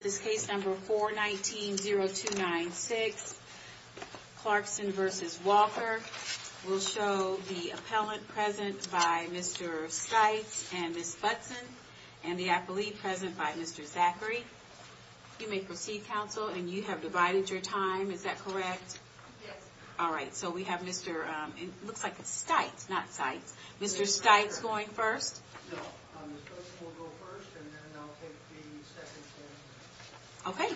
This case number 419-0296 Clarkson v. Walker will show the appellant present by Mr. Stites and Ms. Buttson and the appellee present by Mr. Zachary. You may proceed, counsel, and you have divided your time. Is that correct? Yes. All right, so we have Mr., it looks like it's Stites, not Sites. Mr. Stites going first? No, Ms. Buttson will go first, and then I'll take the second stand. Okay.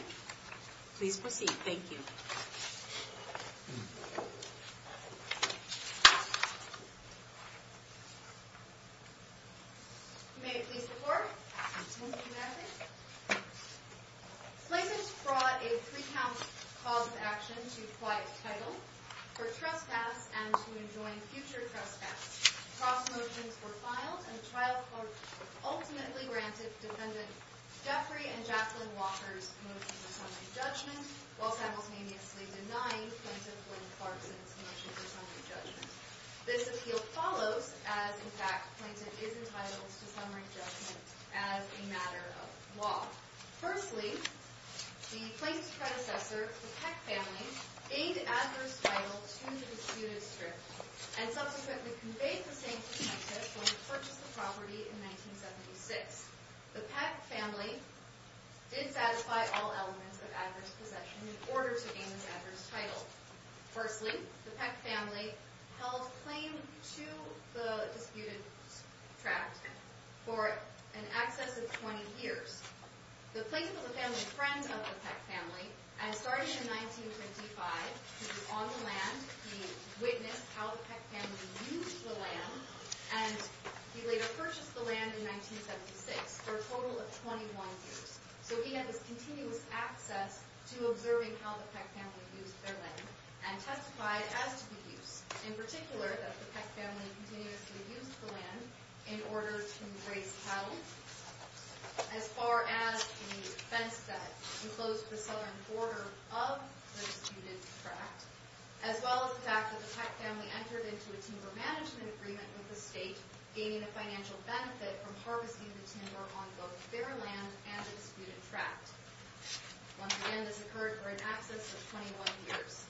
Please proceed. Thank you. You may please report. Thank you, Madeline. Plaintiffs brought a three-count cause of action to quiet title for trespass and to enjoin future trespass. Trespass motions were filed, and the trial court ultimately granted Defendant Jeffrey and Jacqueline Walker's motion for summary judgment while simultaneously denying Plaintiff William Clarkson's motion for summary judgment. This appeal follows as, in fact, the plaintiff is entitled to summary judgment as a matter of law. Firstly, the plaintiff's predecessor, the Peck family, gained adverse title to the disputed strip and subsequently conveyed the same perspective when he purchased the property in 1976. The Peck family did satisfy all elements of adverse possession in order to gain this adverse title. Firstly, the Peck family held claim to the disputed tract for in excess of 20 years. The plaintiff was a family friend of the Peck family, and starting in 1955, he was on the land, he witnessed how the Peck family used the land, and he later purchased the land in 1976 for a total of 21 years. So he had this continuous access to observing how the Peck family used their land and testified as to the use. Once again, this occurred for in excess of 21 years.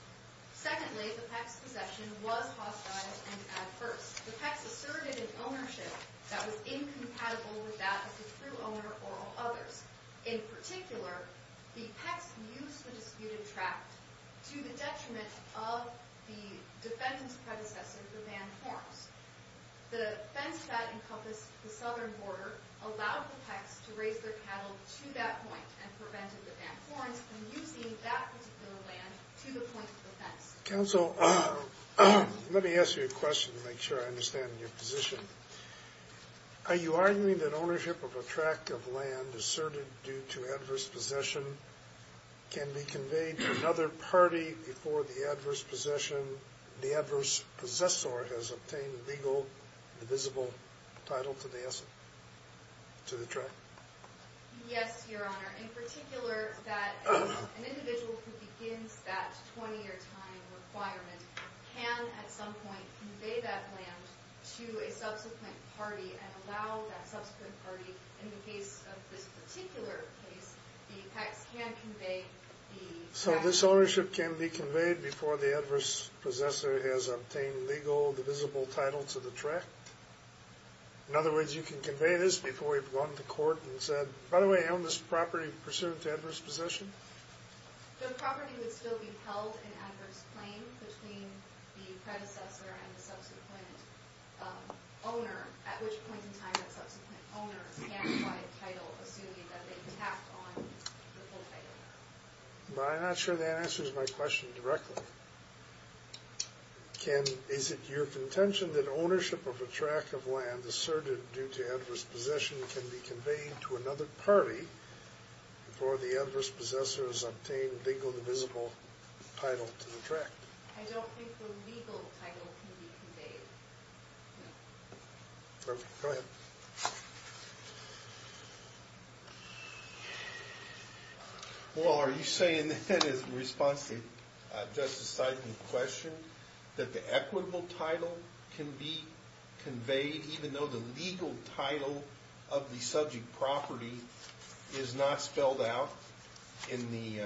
Secondly, the Peck's possession was hostile and adverse. The Pecks asserted an ownership that was incompatible with that of the true owner or of others. In particular, the Pecks used the disputed tract to the detriment of the defendant's predecessor, the Van Horms. The offense that encompassed the southern border allowed the Pecks to raise their cattle to that point and prevented the Van Horms from using that particular land to the point of offense. Counsel, let me ask you a question to make sure I understand your position. Are you arguing that ownership of a tract of land asserted due to adverse possession can be conveyed to another party before the adverse possession, the adverse possessor has obtained legal, divisible title to the asset, to the tract? Yes, Your Honor. In particular, that an individual who begins that 20-year time requirement can, at some point, convey that land to a subsequent party and allow that subsequent party, in the case of this particular case, the Pecks can convey the tract. So this ownership can be conveyed before the adverse possessor has obtained legal, divisible title to the tract? In other words, you can convey this before you've gone to court and said, by the way, I own this property pursuant to adverse possession? The property would still be held in adverse claim between the predecessor and the subsequent owner, at which point in time that subsequent owner can apply a title, assuming that they tapped on the full title. But I'm not sure that answers my question directly. Is it your contention that ownership of a tract of land asserted due to adverse possession can be conveyed to another party before the adverse possessor has obtained legal, divisible title to the tract? I don't think the legal title can be conveyed. Go ahead. Well, are you saying that in response to Justice Seidman's question, that the equitable title can be conveyed even though the legal title of the subject property is not spelled out in the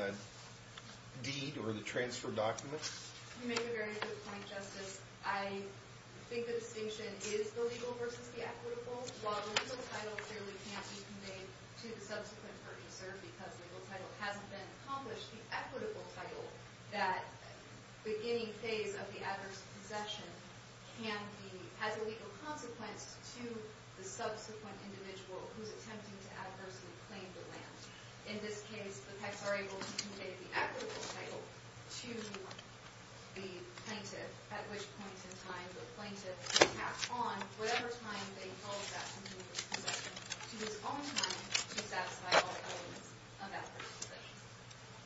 deed or the transfer document? You make a very good point, Justice. I think the distinction is the legal versus the equitable. While the legal title clearly can't be conveyed to the subsequent purchaser because the legal title hasn't been accomplished, the equitable title, that beginning phase of the adverse possession, has a legal consequence to the subsequent individual who's attempting to adversely claim the land. In this case, the pets are able to convey the equitable title to the plaintiff, at which point in time the plaintiff can tap on whatever time they felt that subsequent possession to his own time to satisfy all elements of adverse possession.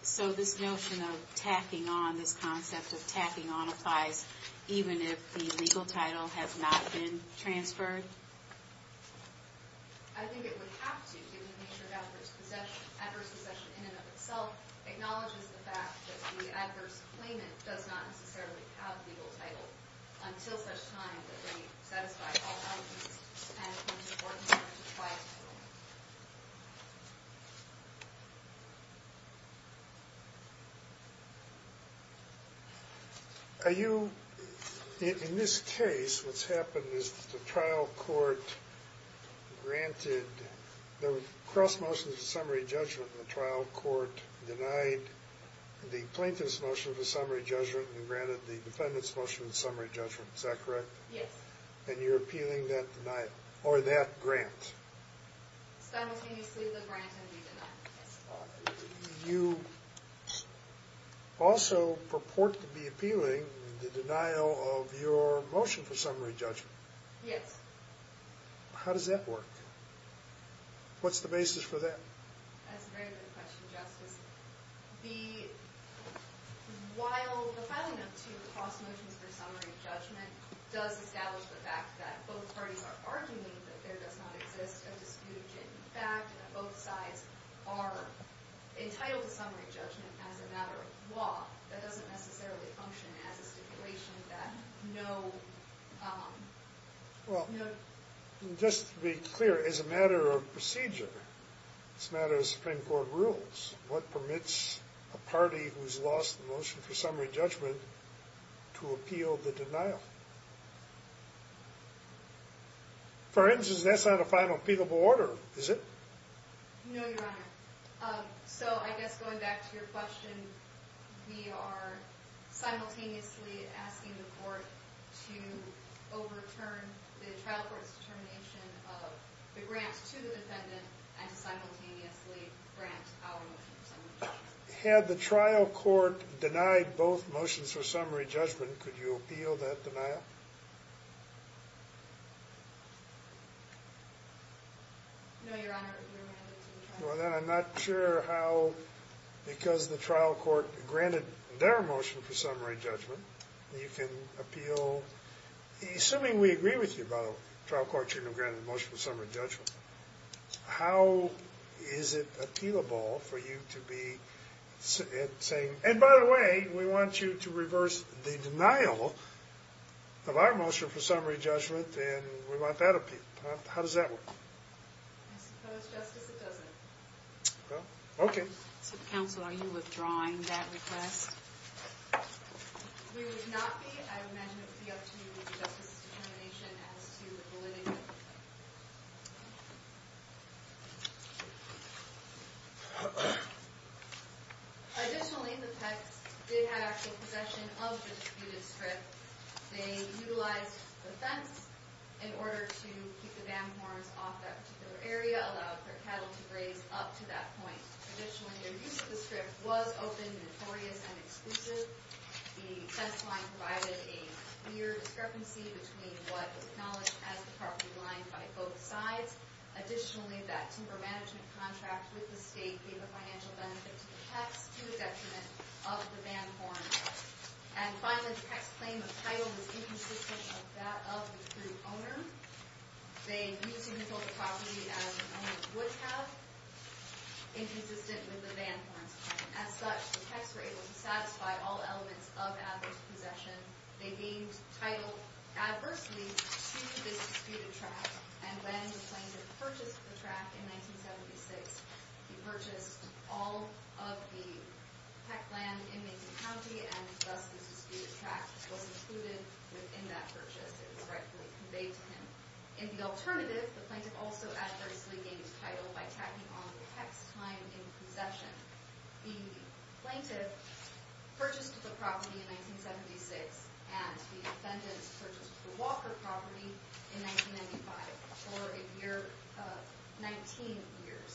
So this notion of tacking on, this concept of tacking on, applies even if the legal title has not been transferred? I think it would have to, given the nature of adverse possession. Adverse possession in and of itself acknowledges the fact that the adverse claimant does not necessarily have legal title until such time that they satisfy all elements, and it becomes important for them to try a title. Are you, in this case, what's happened is the trial court granted, there were cross motions of summary judgment, and the trial court denied the plaintiff's motion for summary judgment and granted the defendant's motion for summary judgment, is that correct? Yes. And you're appealing that denial, or that grant. Simultaneously the grant and the denial. You also purport to be appealing the denial of your motion for summary judgment. Yes. How does that work? What's the basis for that? That's a very good question, Justice. While the filing of two cross motions for summary judgment does establish the fact that both parties are arguing that there does not exist a dispute in fact, and that both sides are entitled to summary judgment as a matter of law, that doesn't necessarily function as a stipulation that no... Just to be clear, as a matter of procedure, as a matter of Supreme Court rules, what permits a party who's lost the motion for summary judgment to appeal the denial? For instance, that's not a final appealable order, is it? No, Your Honor. So I guess going back to your question, we are simultaneously asking the court to overturn the trial court's determination of the grant to the defendant and simultaneously grant our motion for summary judgment. Had the trial court denied both motions for summary judgment, could you appeal that denial? No, Your Honor. Well, then I'm not sure how, because the trial court granted their motion for summary judgment, you can appeal... Assuming we agree with you about the trial court's agreement of granting the motion for summary judgment, how is it appealable for you to be saying, and by the way, we want you to reverse the denial of our motion for summary judgment, and we want that appealed. How does that work? I suppose, Justice, it doesn't. Well, okay. So, Counsel, are you withdrawing that request? We would not be. I would imagine it would be up to the Justice's determination as to the validity of it. Additionally, the pets did have actual possession of the disputed strip. They utilized the fence in order to keep the bamboos off that particular area, allowing their cattle to graze up to that point. Additionally, their use of the strip was open, notorious, and exclusive. The fence line provided a clear discrepancy between what was acknowledged as the property line by both sides. Additionally, that timber management contract with the state gave a financial benefit to the pets to the detriment of the Van Thorns. And finally, the pets' claim of title was inconsistent of that of the approved owner. They viewed significant property as the owners would have, inconsistent with the Van Thorns' claim. As such, the pets were able to satisfy all elements of adverse possession. They gained title adversely to this disputed tract, and when the plaintiff purchased the tract in 1976, he purchased all of the pet land in Mason County, and thus this disputed tract was included within that purchase. It was rightfully conveyed to him. In the alternative, the plaintiff also adversely gained title by tacking on the pets' time in possession. The plaintiff purchased the property in 1976, and the defendants purchased the Walker property in 1995 for 19 years.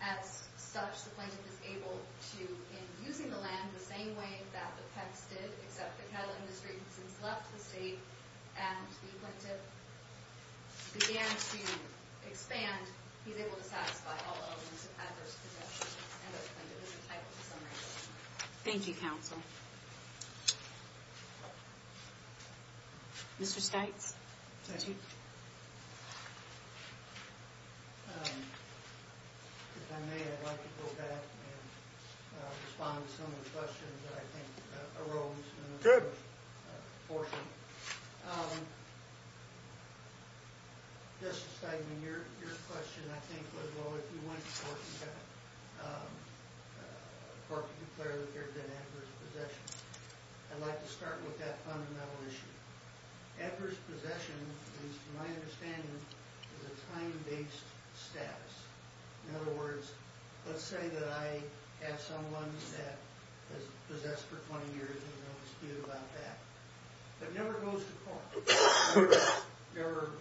As such, the plaintiff is able to, in using the land the same way that the pets did, except the cattle industry had since left the state, and the plaintiff began to expand, and he's able to satisfy all elements of adverse possession, and the plaintiff is entitled to some regulation. Thank you, counsel. Mr. Stites? Thank you. If I may, I'd like to go back and respond to some of the questions that I think arose in this portion. Mr. Steinman, your question, I think, was, well, if you went forth and declared that there had been adverse possession. I'd like to start with that fundamental issue. Adverse possession, at least to my understanding, is a time-based status. In other words, let's say that I have someone that has possessed for 20 years, and they'll dispute about that. It never goes to court. It never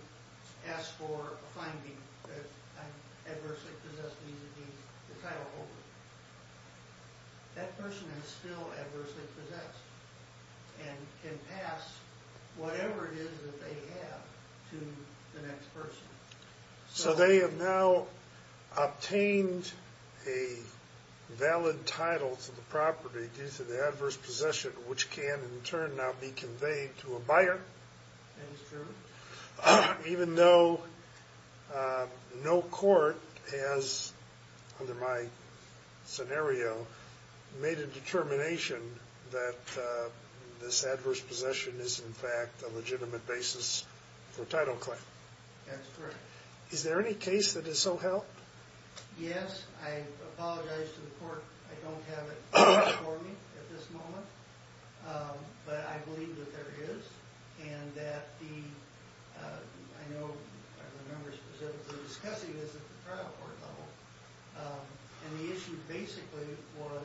asks for a finding that I'm adversely possessed, and the title holds. That person is still adversely possessed, and can pass whatever it is that they have to the next person. So they have now obtained a valid title to the property due to the adverse possession, which can, in turn, now be conveyed to a buyer. That is true. Even though no court has, under my scenario, made a determination that this adverse possession is, in fact, a legitimate basis for a title claim. That's correct. Is there any case that is so held? Yes, I apologize to the court, I don't have it before me at this moment. But I believe that there is, and that the, I know, I remember specifically discussing this at the trial court level. And the issue, basically, was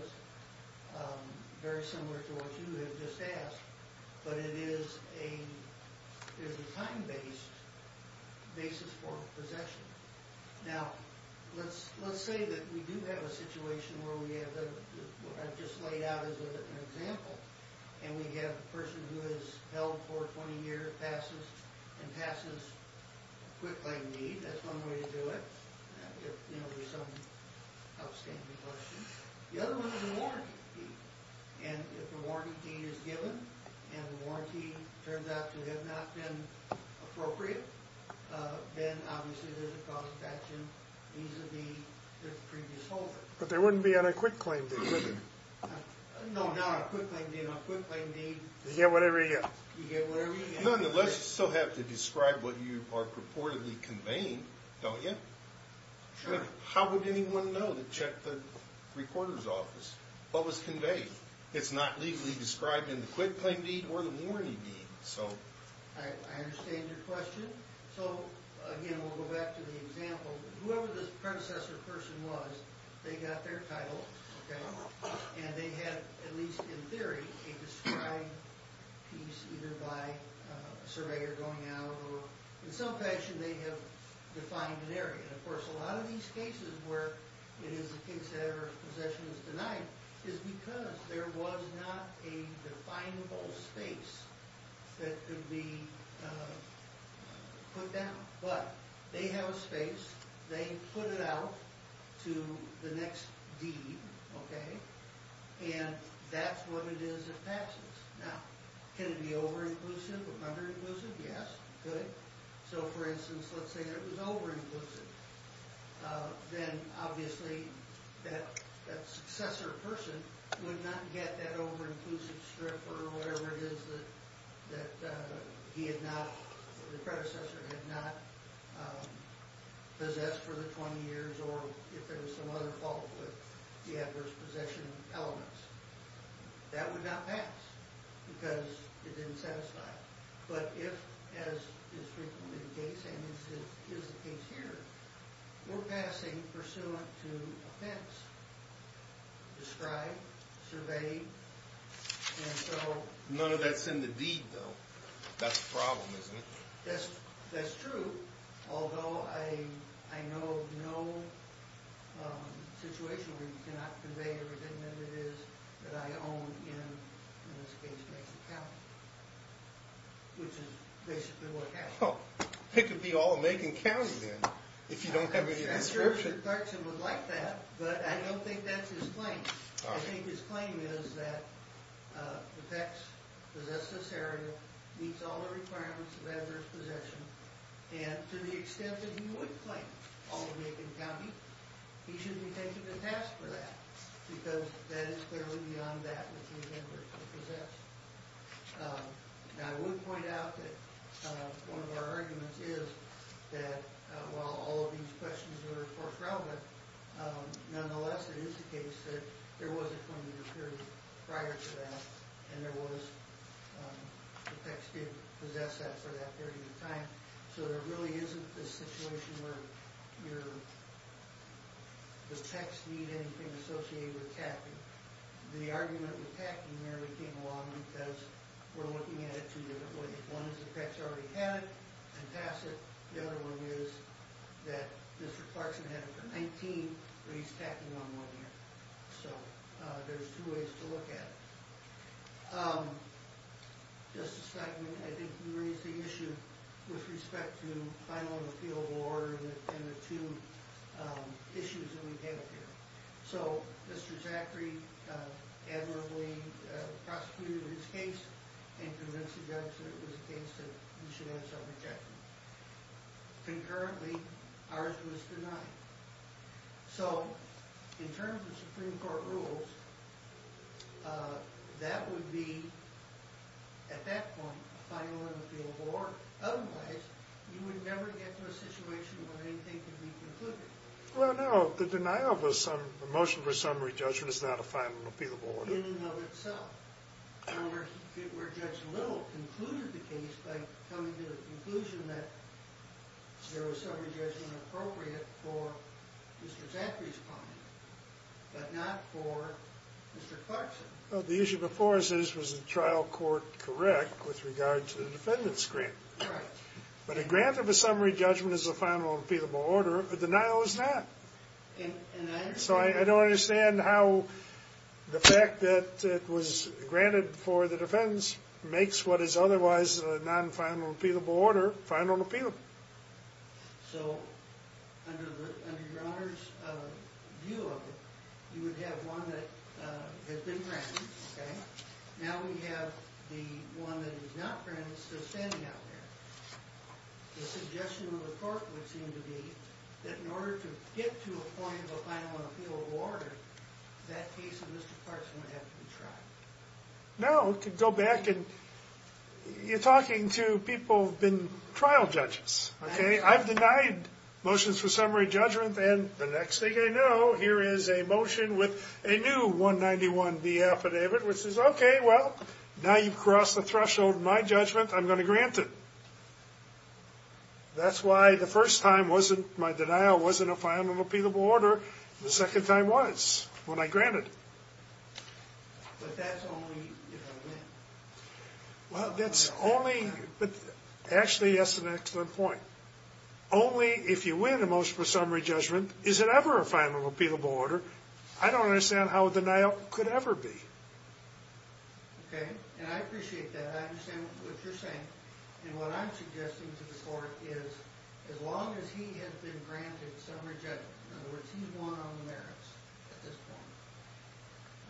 very similar to what you have just asked, but it is a, there's a time-based basis for possession. Now, let's say that we do have a situation where we have, I've just laid out as an example, and we have a person who has held for 20 years, and passes a quick claim deed, that's one way to do it. If, you know, there's some outstanding possession. The other one is a warranty deed. And if a warranty deed is given, and the warranty turns out to have not been appropriate, then, obviously, there's a cause of action vis-a-vis the previous holder. But there wouldn't be on a quick claim deed, would there? No, no, a quick claim deed, on a quick claim deed... You get whatever you get. You get whatever you get. No, no, let's still have to describe what you are purportedly conveying, don't you? Sure. How would anyone know to check the reporter's office? What was conveyed? It's not legally described in the quick claim deed or the warranty deed, so... I understand your question. So, again, we'll go back to the example. Whoever this predecessor person was, they got their title, okay? And they had, at least in theory, a described piece, either by a surveyor going out or... In some fashion, they have defined an area. Of course, a lot of these cases where it is the kid's head or his possession is denied is because there was not a definable space that could be put down. But they have a space. They put it out to the next deed, okay? And that's what it is it passes. Now, can it be over-inclusive or under-inclusive? Yes, it could. So, for instance, let's say it was over-inclusive. Then, obviously, that successor person would not get that over-inclusive strip or whatever it is that the predecessor had not possessed for the 20 years or if there was some other fault with the adverse possession elements. That would not pass because it didn't satisfy. But if, as is frequently the case and is the case here, we're passing pursuant to offense, described, surveyed. None of that's in the deed, though. That's a problem, isn't it? That's true, although I know of no situation where you cannot convey everything that it is that I own in this case against the county, which is basically what happened. It could be all of Macon County, then, if you don't have any description. I'm sure Mr. Clarkson would like that, but I don't think that's his claim. I think his claim is that the PECS possessed this area, meets all the requirements of adverse possession, and to the extent that he would claim all of Macon County, he shouldn't be taking the task for that because that is clearly beyond that which the offenders have possessed. Now, I would point out that one of our arguments is that while all of these questions are, of course, relevant, nonetheless, it is the case that there was a 20-year period prior to that and the PECS did possess that for that period of time, so there really isn't this situation where the PECS need anything associated with tacking. The argument with tacking nearly came along because we're looking at it two different ways. One is the PECS already had it and passed it. The other one is that Mr. Clarkson had it for 19, but he's tacking on one year, so there's two ways to look at it. Just a second. I think you raised the issue with respect to final appeal of order and the two issues that we have here, so Mr. Zachary admirably prosecuted his case and convinced the judge that it was a case that he should have self-rejection. Concurrently, ours was denied. So, in terms of Supreme Court rules, that would be, at that point, a final appeal of order. Otherwise, you would never get to a situation where anything could be concluded. Well, no, the motion for summary judgment is not a final appeal of order. In and of itself. Where Judge Little concluded the case by coming to the conclusion that there was summary judgment appropriate for Mr. Zachary's client, but not for Mr. Clarkson. The issue before us is, was the trial court correct with regard to the defendant's grant? Right. But a grant of a summary judgment as a final appeal of order, a denial is not. So, I don't understand how the fact that it was granted for the defense makes what is otherwise a non-final appeal of order, final appeal. So, under your Honor's view of it, you would have one that has been granted, okay? Now we have the one that is not granted still standing out there. The suggestion of the court would seem to be that in order to get to a point of a final appeal of order, that case of Mr. Clarkson would have to be tried. No, go back and, you're talking to people who have been trial judges, okay? I've denied motions for summary judgment, and the next thing I know, here is a motion with a new 191B affidavit, which is, okay, well, now you've crossed the threshold of my judgment. I'm going to grant it. That's why the first time my denial wasn't a final appeal of order, the second time was, when I granted it. But that's only if I win. Well, that's only, but actually, yes, that's an excellent point. Only if you win a motion for summary judgment is it ever a final appeal of order. I don't understand how a denial could ever be. Okay, and I appreciate that. But I understand what you're saying, and what I'm suggesting to the court is, as long as he has been granted summary judgment, in other words, he's won on the merits at this point,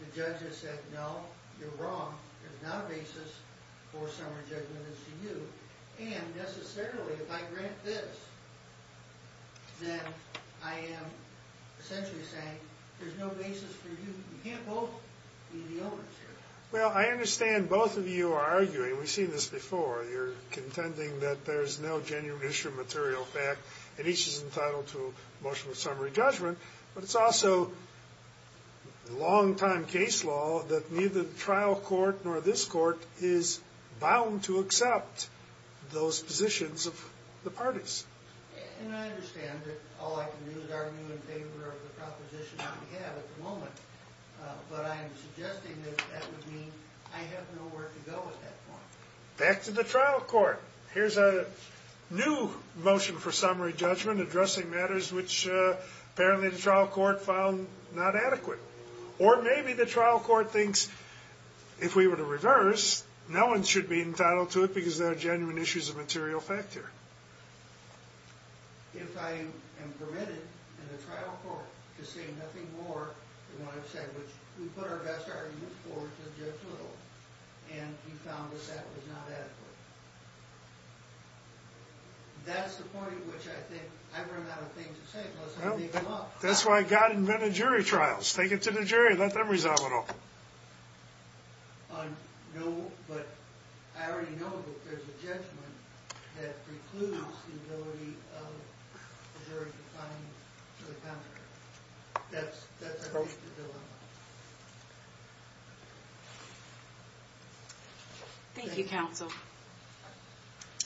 the judge has said, no, you're wrong, there's not a basis for summary judgment as to you, and necessarily, if I grant this, then I am essentially saying there's no basis for you. You can't both be the owners here. Well, I understand both of you are arguing, we've seen this before, you're contending that there's no genuine issue of material fact, and each is entitled to a motion of summary judgment, but it's also long-time case law that neither the trial court nor this court is bound to accept those positions of the parties. And I understand that all I can do is argue in favor of the proposition I have at the moment, but I am suggesting that that would mean I have nowhere to go at that point. Back to the trial court. Here's a new motion for summary judgment addressing matters which apparently the trial court found not adequate. Or maybe the trial court thinks if we were to reverse, no one should be entitled to it because there are genuine issues of material fact here. If I am permitted in the trial court to say nothing more than what I've said, which we put our best argument for to Judge Little, and he found that that was not adequate. That's the point at which I think I've run out of things to say, unless I make them up. That's why God invented jury trials. Take it to the jury, let them resolve it all. No, but I already know that there's a judgment that precludes the ability of the jury to find the counter. That's at least the dilemma. Thank you, counsel.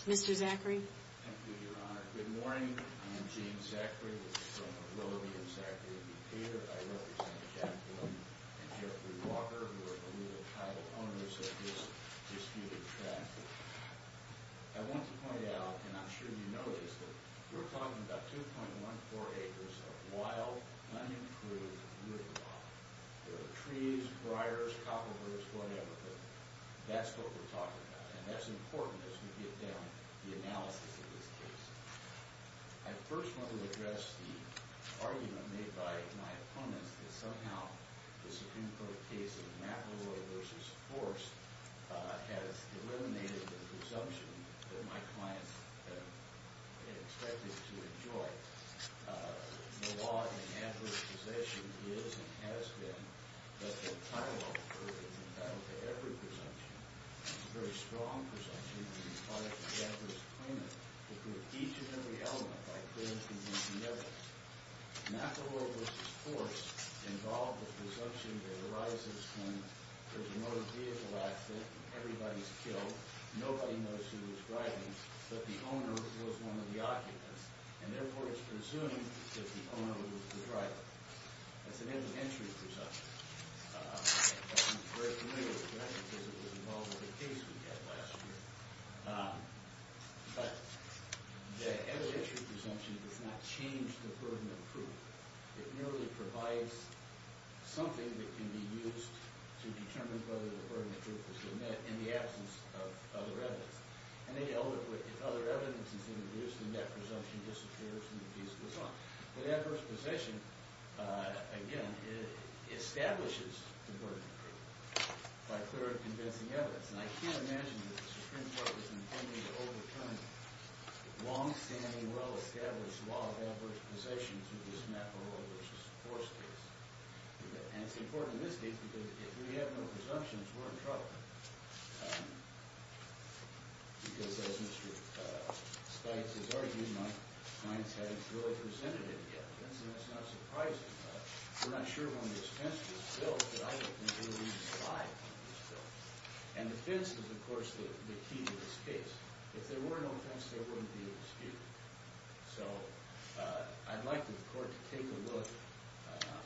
Mr. Zachary. Thank you, Your Honor. Good morning. I am James Zachary. This is from the ability of Zachary to be here. I represent Jacqueline and Jeffrey Walker, who are the legal title owners of this disputed tract. I want to point out, and I'm sure you know this, that we're talking about 2.14 acres of wild, unimproved woodland. There are trees, briars, copper birch, whatever, but that's what we're talking about, and that's important as we get down to the analysis of this case. I first want to address the argument made by my opponents that somehow the Supreme Court case of McIlroy v. Force has eliminated the presumption that my clients expected to enjoy. The law in Antler's possession is and has been that the title is entitled to every presumption. It's a very strong presumption, and it's part of the Antler's claim to prove each and every element by clear and convincing evidence. McIlroy v. Force involved the presumption that arises when there's a motor vehicle accident and everybody's killed, nobody knows who was driving, but the owner was one of the occupants, and therefore it's presumed that the owner was the driver. That's an elementary presumption. I'm very familiar with that because it was involved with a case we had last year, but the evidentiary presumption does not change the burden of proof. It merely provides something that can be used to determine whether the burden of proof was omitted in the absence of other evidence. And they dealt with if other evidence is introduced, then that presumption disappears and the case goes on. But adverse possession, again, establishes the burden of proof by clear and convincing evidence, and I can't imagine that the Supreme Court is intending to overturn the longstanding, well-established law of adverse possession through this McIlroy v. Force case. And it's important in this case because if we have no presumptions, we're in trouble. Because, as Mr. Stites has argued, my clients haven't really presented it yet. And so that's not surprising. We're not sure when this fence was built, but I don't think it'll even slide when it's built. And the fence is, of course, the key to this case. If there were no fence, there wouldn't be a dispute. So, I'd like the Court to take a look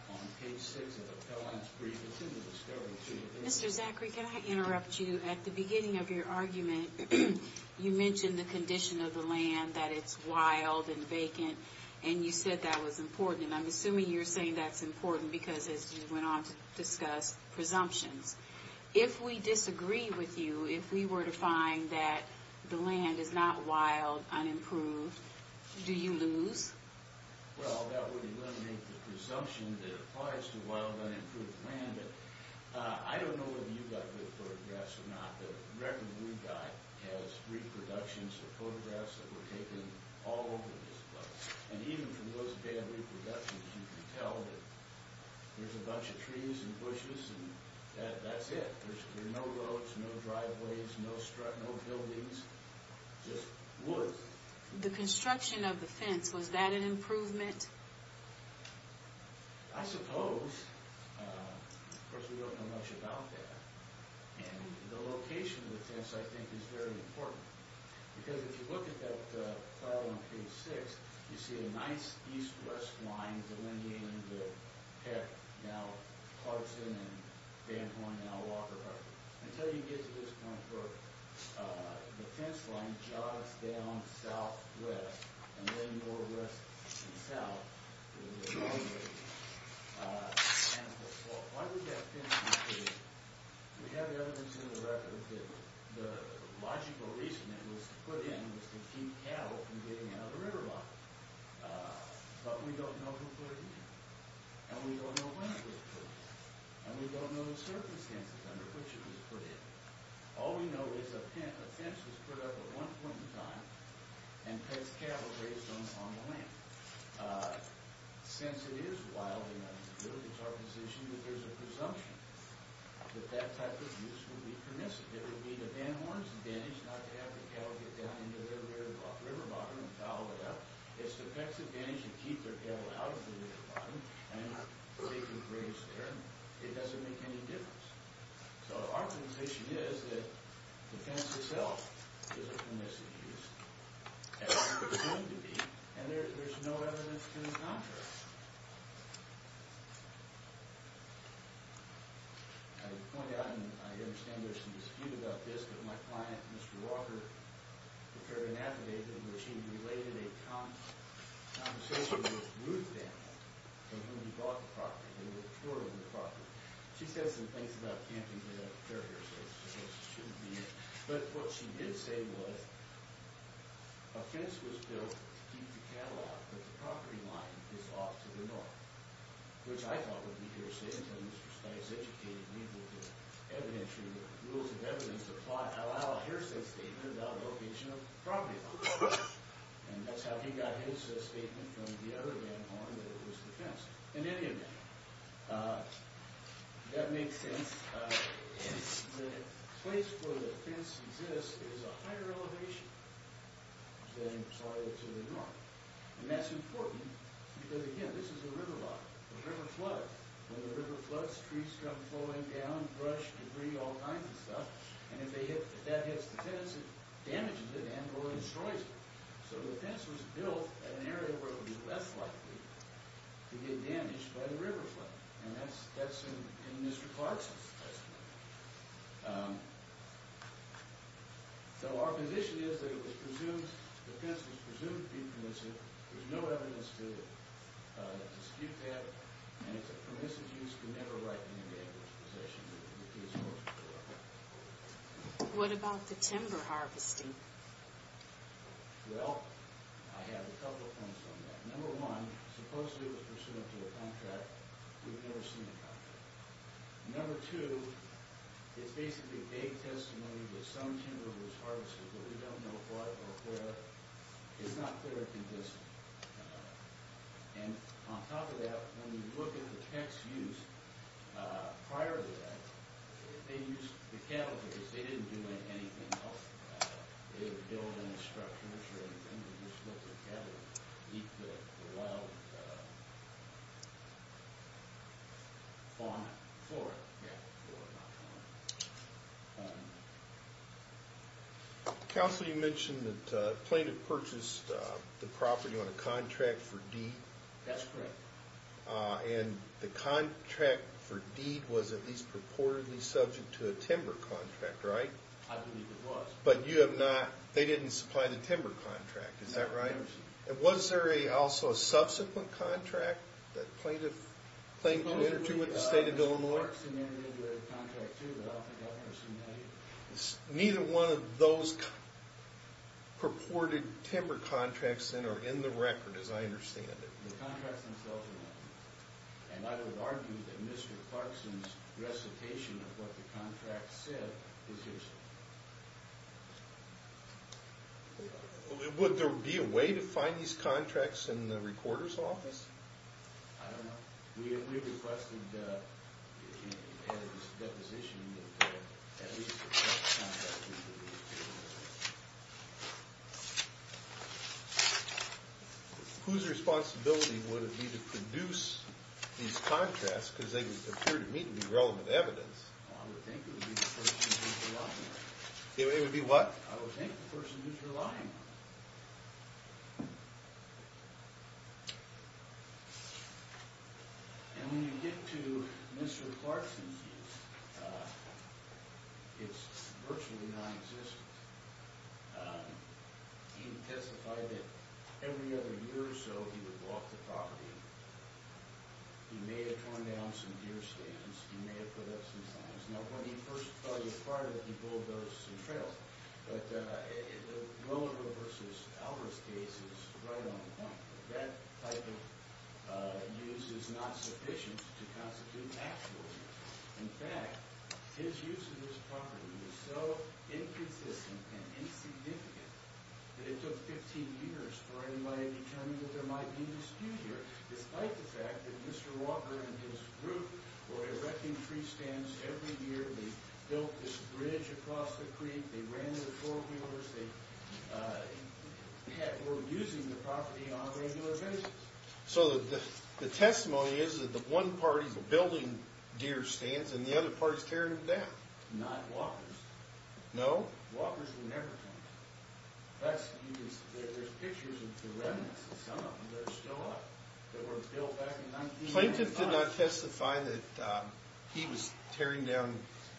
on page 6 of the Pell Lines Brief. It's in the Discoveries Unit. Mr. Zachary, can I interrupt you? At the beginning of your argument, you mentioned the condition of the land, that it's wild and vacant, and you said that was important. And I'm assuming you're saying that's important because, as you went on to discuss, presumptions. If we disagree with you, if we were to find that the land is not wild, unimproved, do you lose? Well, that would eliminate the presumption that it applies to wild, unimproved land. I don't know whether you got good photographs or not, but the record we got has three productions or photographs that were taken all over this place. And even from those bad reproductions, you can tell that there's a bunch of trees and bushes, and that's it. There's no roads, no driveways, no buildings, just wood. The construction of the fence, was that an improvement? I suppose. Of course, we don't know much about that. And the location of the fence, I think, is very important because if you look at that file on page 6, you see a nice east-west line delineating the Peck, now Clarkson, and Van Horn, now Walker Park. Until you get to this point where the fence line jogs down southwest, and then northwest and south, there's a boundary. Why would that fence be here? We have evidence in the record that the logical reason it was put in was to keep cattle from getting out of the river line. But we don't know who put it in, and we don't know when it was put in, and we don't know the circumstances under which it was put in. All we know is a fence is put up at one point in time and puts cattle raised on the land. Since it is wild enough to do it, it's our position that there's a presumption that that type of use would be permissive. It would be to Van Horn's advantage not to have the cattle get down into the river bottom and foul it up. It's to Peck's advantage to keep their cattle out of the river bottom, and they can raise there. It doesn't make any difference. So our position is that the fence itself is a permissive use, as it's presumed to be, and there's no evidence to contrast. I would point out, and I understand there's some dispute about this, but my client, Mr. Walker, prepared an affidavit in which he related a conversation with Ruth Van Horn from when we bought the property, when we were touring the property. She said some things about camping that I don't care here, so it shouldn't be, but what she did say was, a fence was built to keep the cattle out, but the property line is off to the north, which I thought would be hearsay until Mr. Spice educated people to evidentiary rules of evidence that allow a hearsay statement about the location of the property line, and that's how he got his statement from the other Van Horn that it was the fence. In any event, that makes sense. The place where the fence exists is a higher elevation than prior to the north, and that's important because, again, this is a river lot, a river flood. When the river floods, trees come flowing down, brush, debris, all kinds of stuff, and if that hits the fence, it damages it and or destroys it, so the fence was built at an area where it would be less likely to get damaged by the river flood, and that's in Mr. Clarkson's testimony. So our position is that it was presumed, the fence was presumed to be permissive. There's no evidence to dispute that, and it's a permissive use. We never write anything in this position. What about the timber harvesting? Well, I have a couple of points on that. Number one, supposedly it was pursuant to a contract. We've never seen a contract. Number two, it's basically vague testimony that some timber was harvested, but we don't know what or where. It's not clear if it was, and on top of that, when you look at the fence use prior to that, they used the cattle because they didn't do anything else. They didn't build any structures or anything. They just let the cattle eat the wild fauna, flora. Yeah, flora, not fauna. Counsel, you mentioned that plaintiff purchased the property on a contract for deed. That's correct. And the contract for deed was at least purportedly subject to a timber contract, right? I believe it was. But you have not, they didn't supply the timber contract, is that right? And was there also a subsequent contract that plaintiff entered into with the state of Illinois? Supposedly, there's parts in there that entered into a contract too, but I don't think I've ever seen that either. Neither one of those purported timber contracts are in the record, as I understand it. The contracts themselves are not. And I would argue that Mr. Clarkson's recitation of what the contract said is his. Would there be a way to find these contracts in the recorder's office? I don't know. We requested a deposition at least for that contract. Whose responsibility would it be to produce these contracts, because they appear to me to be relevant evidence? I would think it would be the person who's relying on them. It would be what? I would think the person who's relying on them. And when you get to Mr. Clarkson's use, it's virtually non-existent. He testified that every other year or so he would walk the property. He may have torn down some deer stands. He may have put up some signs. Now, when he first filed his prior, he bulldozed some trails. But the Willowville versus Alvarez case is right on the point. That type of use is not sufficient to constitute actual use. In fact, his use of this property was so inconsistent and insignificant that it took 15 years for anybody to determine that there might be a dispute here, despite the fact that Mr. Walker and his group were erecting tree stands every year. They built this bridge across the creek. They ran their four-wheelers. They were using the property on a regular basis. So the testimony is that the one party is building deer stands, and the other party is tearing them down. Not Walker's. No? Walker's would never do that. In fact, there's pictures of the remnants. Some of them are still up. They were built back in 1925. Plaintiff did not testify that he was tearing down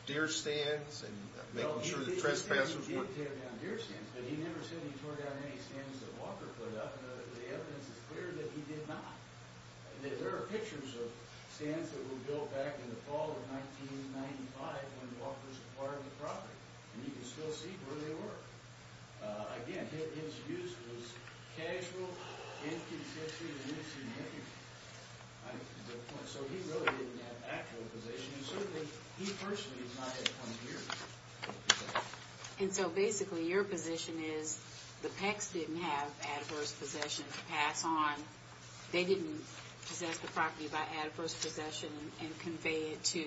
deer stands and making sure the trespassers weren't. No, he didn't tear down deer stands, but he never said he tore down any stands that Walker put up. The evidence is clear that he did not. There are pictures of stands that were built back in the fall of 1995 when Walker's acquired the property, and you can still see where they were. Again, his use was casual, inconsistent, and insignificant. So he really didn't have actual possession. And certainly, he personally has not had any years of possession. And so basically, your position is the Pecks didn't have adverse possession to pass on. They didn't possess the property by adverse possession and convey it to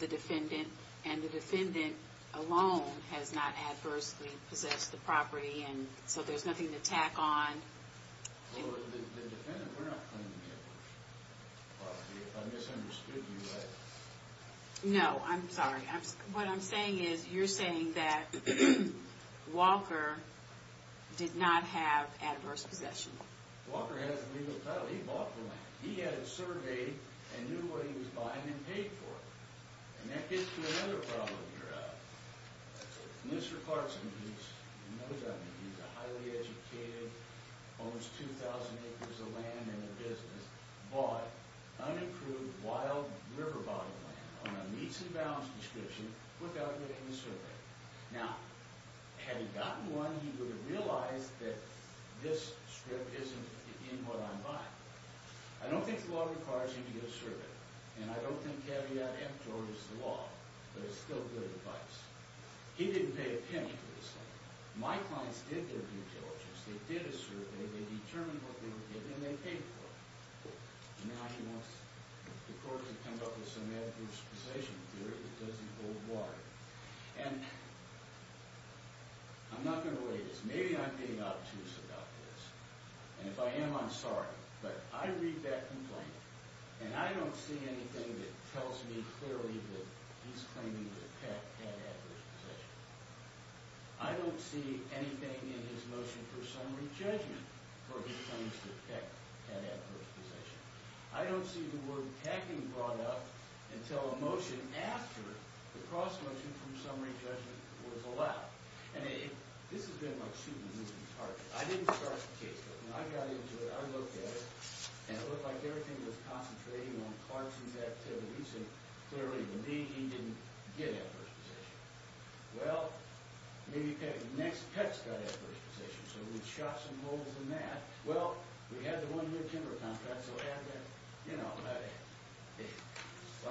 the defendant. And the defendant alone has not adversely possessed the property, and so there's nothing to tack on. Well, the defendant, we're not claiming the adverse possession of the property. If I misunderstood you, I... No, I'm sorry. What I'm saying is, you're saying that Walker did not have adverse possession. Walker has a legal title. He bought the land. He had it surveyed and knew what he was buying and paid for it. And that gets to another problem here. Mr. Clarkson, he's a highly educated, owns 2,000 acres of land in the business, bought unapproved wild river bottom land on a meets and bounds description without getting a survey. Now, had he gotten one, he would have realized that this strip isn't in what I'm buying. I don't think the law requires him to get a survey, and I don't think caveat F, George, is the law, but it's still good advice. He didn't pay a penny for this land. My clients did their due diligence. They did a survey. They determined what they were getting, and they paid for it. Now he wants the court to come up with some adverse possession theory that doesn't hold water. And I'm not going to relate this. Maybe I'm being obtuse about this, and if I am, I'm sorry, but I read that complaint, and I don't see anything that tells me clearly that he's claiming that Peck had adverse possession. I don't see anything in his motion for summary judgment where he claims that Peck had adverse possession. I don't see the word Pecking brought up until a motion after the cross-motion from summary judgment was allowed. And this has been like shooting a moving target. I didn't start the case. When I got into it, I looked at it, and it looked like everything was concentrating on Clarkson's activities and clearly me, he didn't get adverse possession. Well, maybe Peck's got adverse possession, so we shot some holes in that. Well, we had the one-year timber contract, and so, you know, if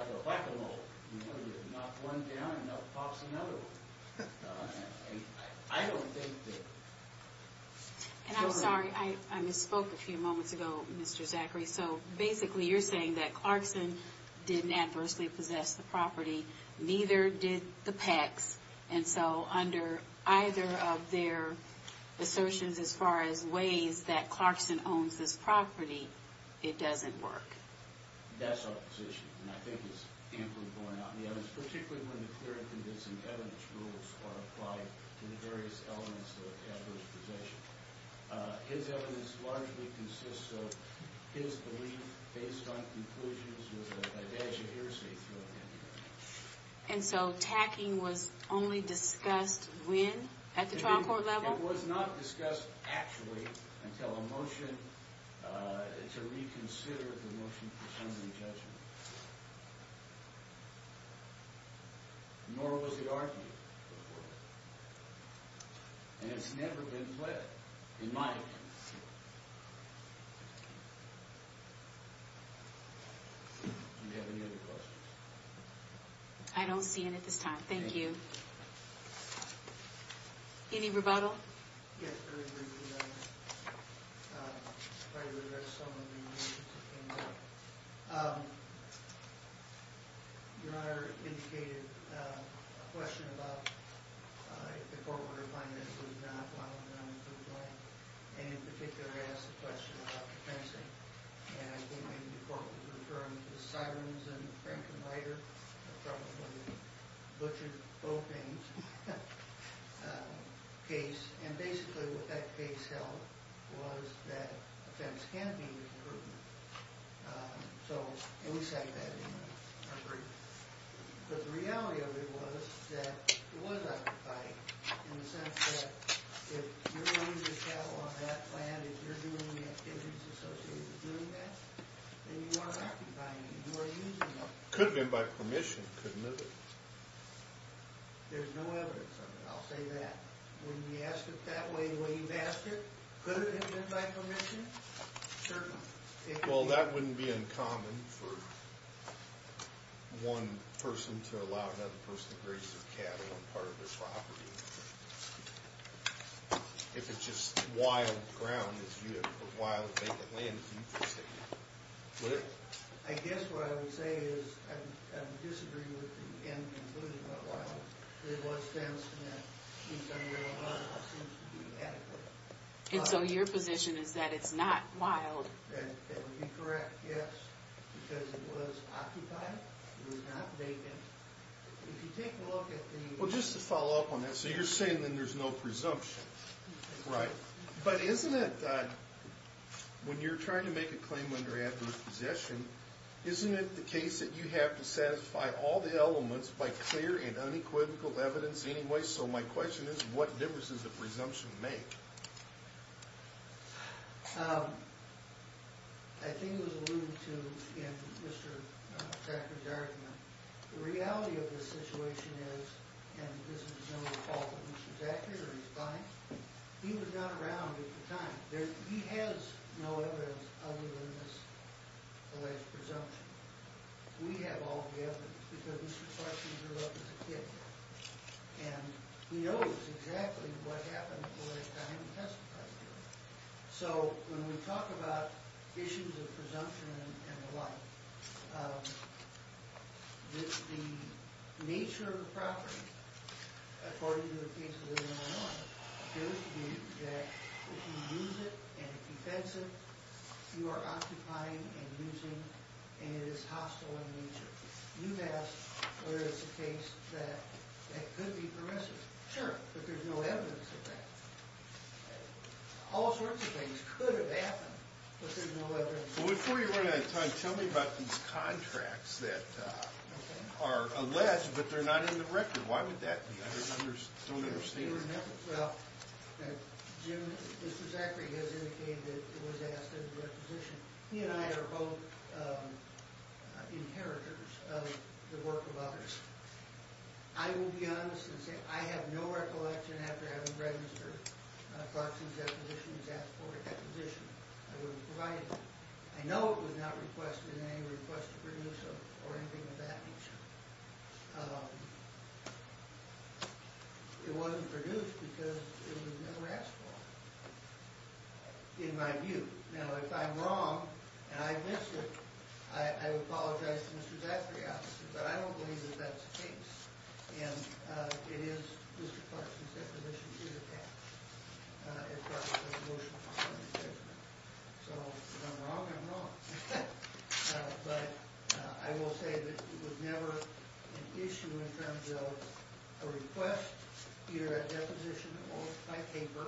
I could knock one down, that would cost another one. I don't think that... And I'm sorry, I misspoke a few moments ago, Mr. Zachary. So basically you're saying that Clarkson didn't adversely possess the property, neither did the Pecks, and so under either of their assertions as far as ways that Clarkson owns this property, it doesn't work. That's our position, and I think it's amply borne out in the evidence, particularly when the clear and convincing evidence rules are applied to the various elements of adverse possession. His evidence largely consists of his belief based on conclusions with a badge of heresy throughout the entire case. And so tacking was only discussed when? At the trial court level? It was not discussed actually until a motion to reconsider the motion for summary judgment. Nor was it argued. And it's never been fled, in my opinion. Do you have any other questions? I don't see any at this time, thank you. Any rebuttal? Yes, there is a rebuttal. If I could address some of the motions that came up. Your Honor indicated a question about if the court were to find that it was not while the non-inclusive law, and in particular asked a question about the fencing. And I think maybe the court was referring to the sirens in Frankenweiter, probably butchered both names. Case, and basically what that case held was that fence can be removed. So, and we cite that in our brief. But the reality of it was that it was occupied in the sense that if you're going to travel on that land and you're doing the activities associated with doing that, then you are occupying it, you are using it. Could have been by permission, couldn't it have been? There's no evidence of it, I'll say that. When you ask it that way, the way you've asked it, could it have been by permission? Certainly. Well, that wouldn't be uncommon for one person to allow another person to graze their cattle on part of their property. If it's just wild ground, wild vacant land, it's interesting. I guess what I would say is, I disagree with the end conclusion about wild. It was fenced, and that in some way or another seems to be adequate. And so your position is that it's not wild? That would be correct, yes. Because it was occupied, it was not vacant. If you take a look at the... Well, just to follow up on that, so you're saying that there's no presumption. Right. But isn't it, when you're trying to make a claim under adverse possession, isn't it the case that you have to satisfy all the elements by clear and unequivocal evidence anyway? So my question is, what difference does the presumption make? I think it was alluded to in Mr. Thacker's argument. The reality of the situation is, and this is no fault of Mr. Thacker's or his client's, he was not around at the time. He has no evidence other than this alleged presumption. We have all the evidence, because Mr. Thacker grew up as a kid. And he knows exactly what happened at the right time and testified to it. So when we talk about issues of presumption and the like, the nature of the property, according to the case of William and I, it tells you that if you use it in a defensive, you are occupying and using, and it is hostile in nature. You ask whether it's a case that could be permissive. Sure. But there's no evidence of that. All sorts of things could have happened, but there's no evidence. Well, before you run out of time, tell me about these contracts that are alleged, but they're not in the record. Why would that be? I don't understand. Well, Jim, Mr. Zachary has indicated that it was asked in the requisition. He and I are both inheritors of the work of others. I will be honest and say I have no recollection after having read Mr. Clarkson's requisition. He's asked for a requisition. I wouldn't provide it. I know it was not requested in any request of permissive or anything of that nature. It wasn't produced because it was never asked for, in my view. Now, if I'm wrong and I miss it, I apologize to Mr. Zachary, but I don't believe that that's the case, and it is Mr. Clarkson's requisition. He's asked for a requisition. So if I'm wrong, I'm wrong. But I will say that it was never an issue in terms of a request, either at deposition or by paper,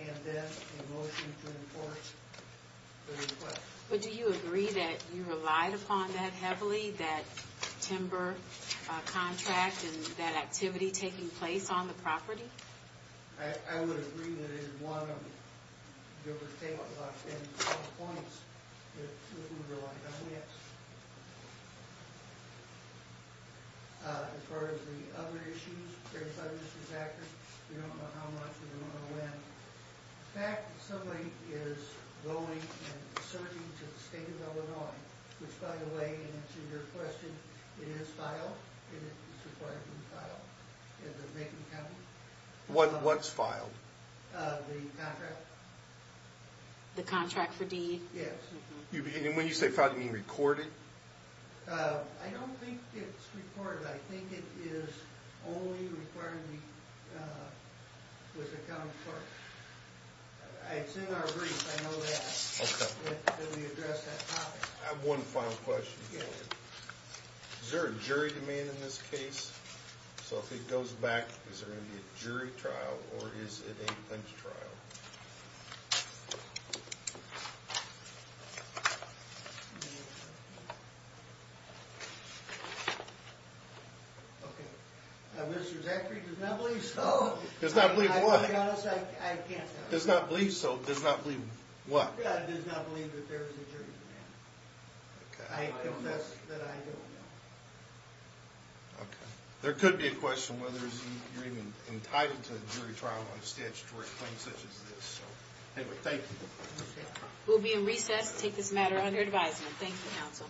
and then a motion to enforce the request. But do you agree that you relied upon that heavily, that timber contract and that activity taking place on the property? I would agree that it is one of, Gilbert's Table has a lot of points that we relied on. Yes. As far as the other issues, I'm sorry, Mr. Zachary, we don't know how much, and we don't know when. The fact that somebody is going and searching to the state of Illinois, which, by the way, in answer to your question, it is filed, and it is required to be filed in the Macon County. What's filed? The contract. The contract for deed? Yes. And when you say filed, you mean recorded? I don't think it's recorded. I think it is only required with the county court. It's in our brief, I know that, that we address that topic. I have one final question. Is there a jury demand in this case? So if it goes back, is there going to be a jury trial, or is it a bench trial? Okay. Mr. Zachary does not believe so. Does not believe what? To be honest, I can't tell you. Does not believe so. Does not believe what? Does not believe that there is a jury demand. I confess that I don't know. Okay. There could be a question whether you're even entitled to a jury trial on a statutory claim such as this. Anyway, thank you. We'll be in recess to take this matter under advisement. Thank you, counsel.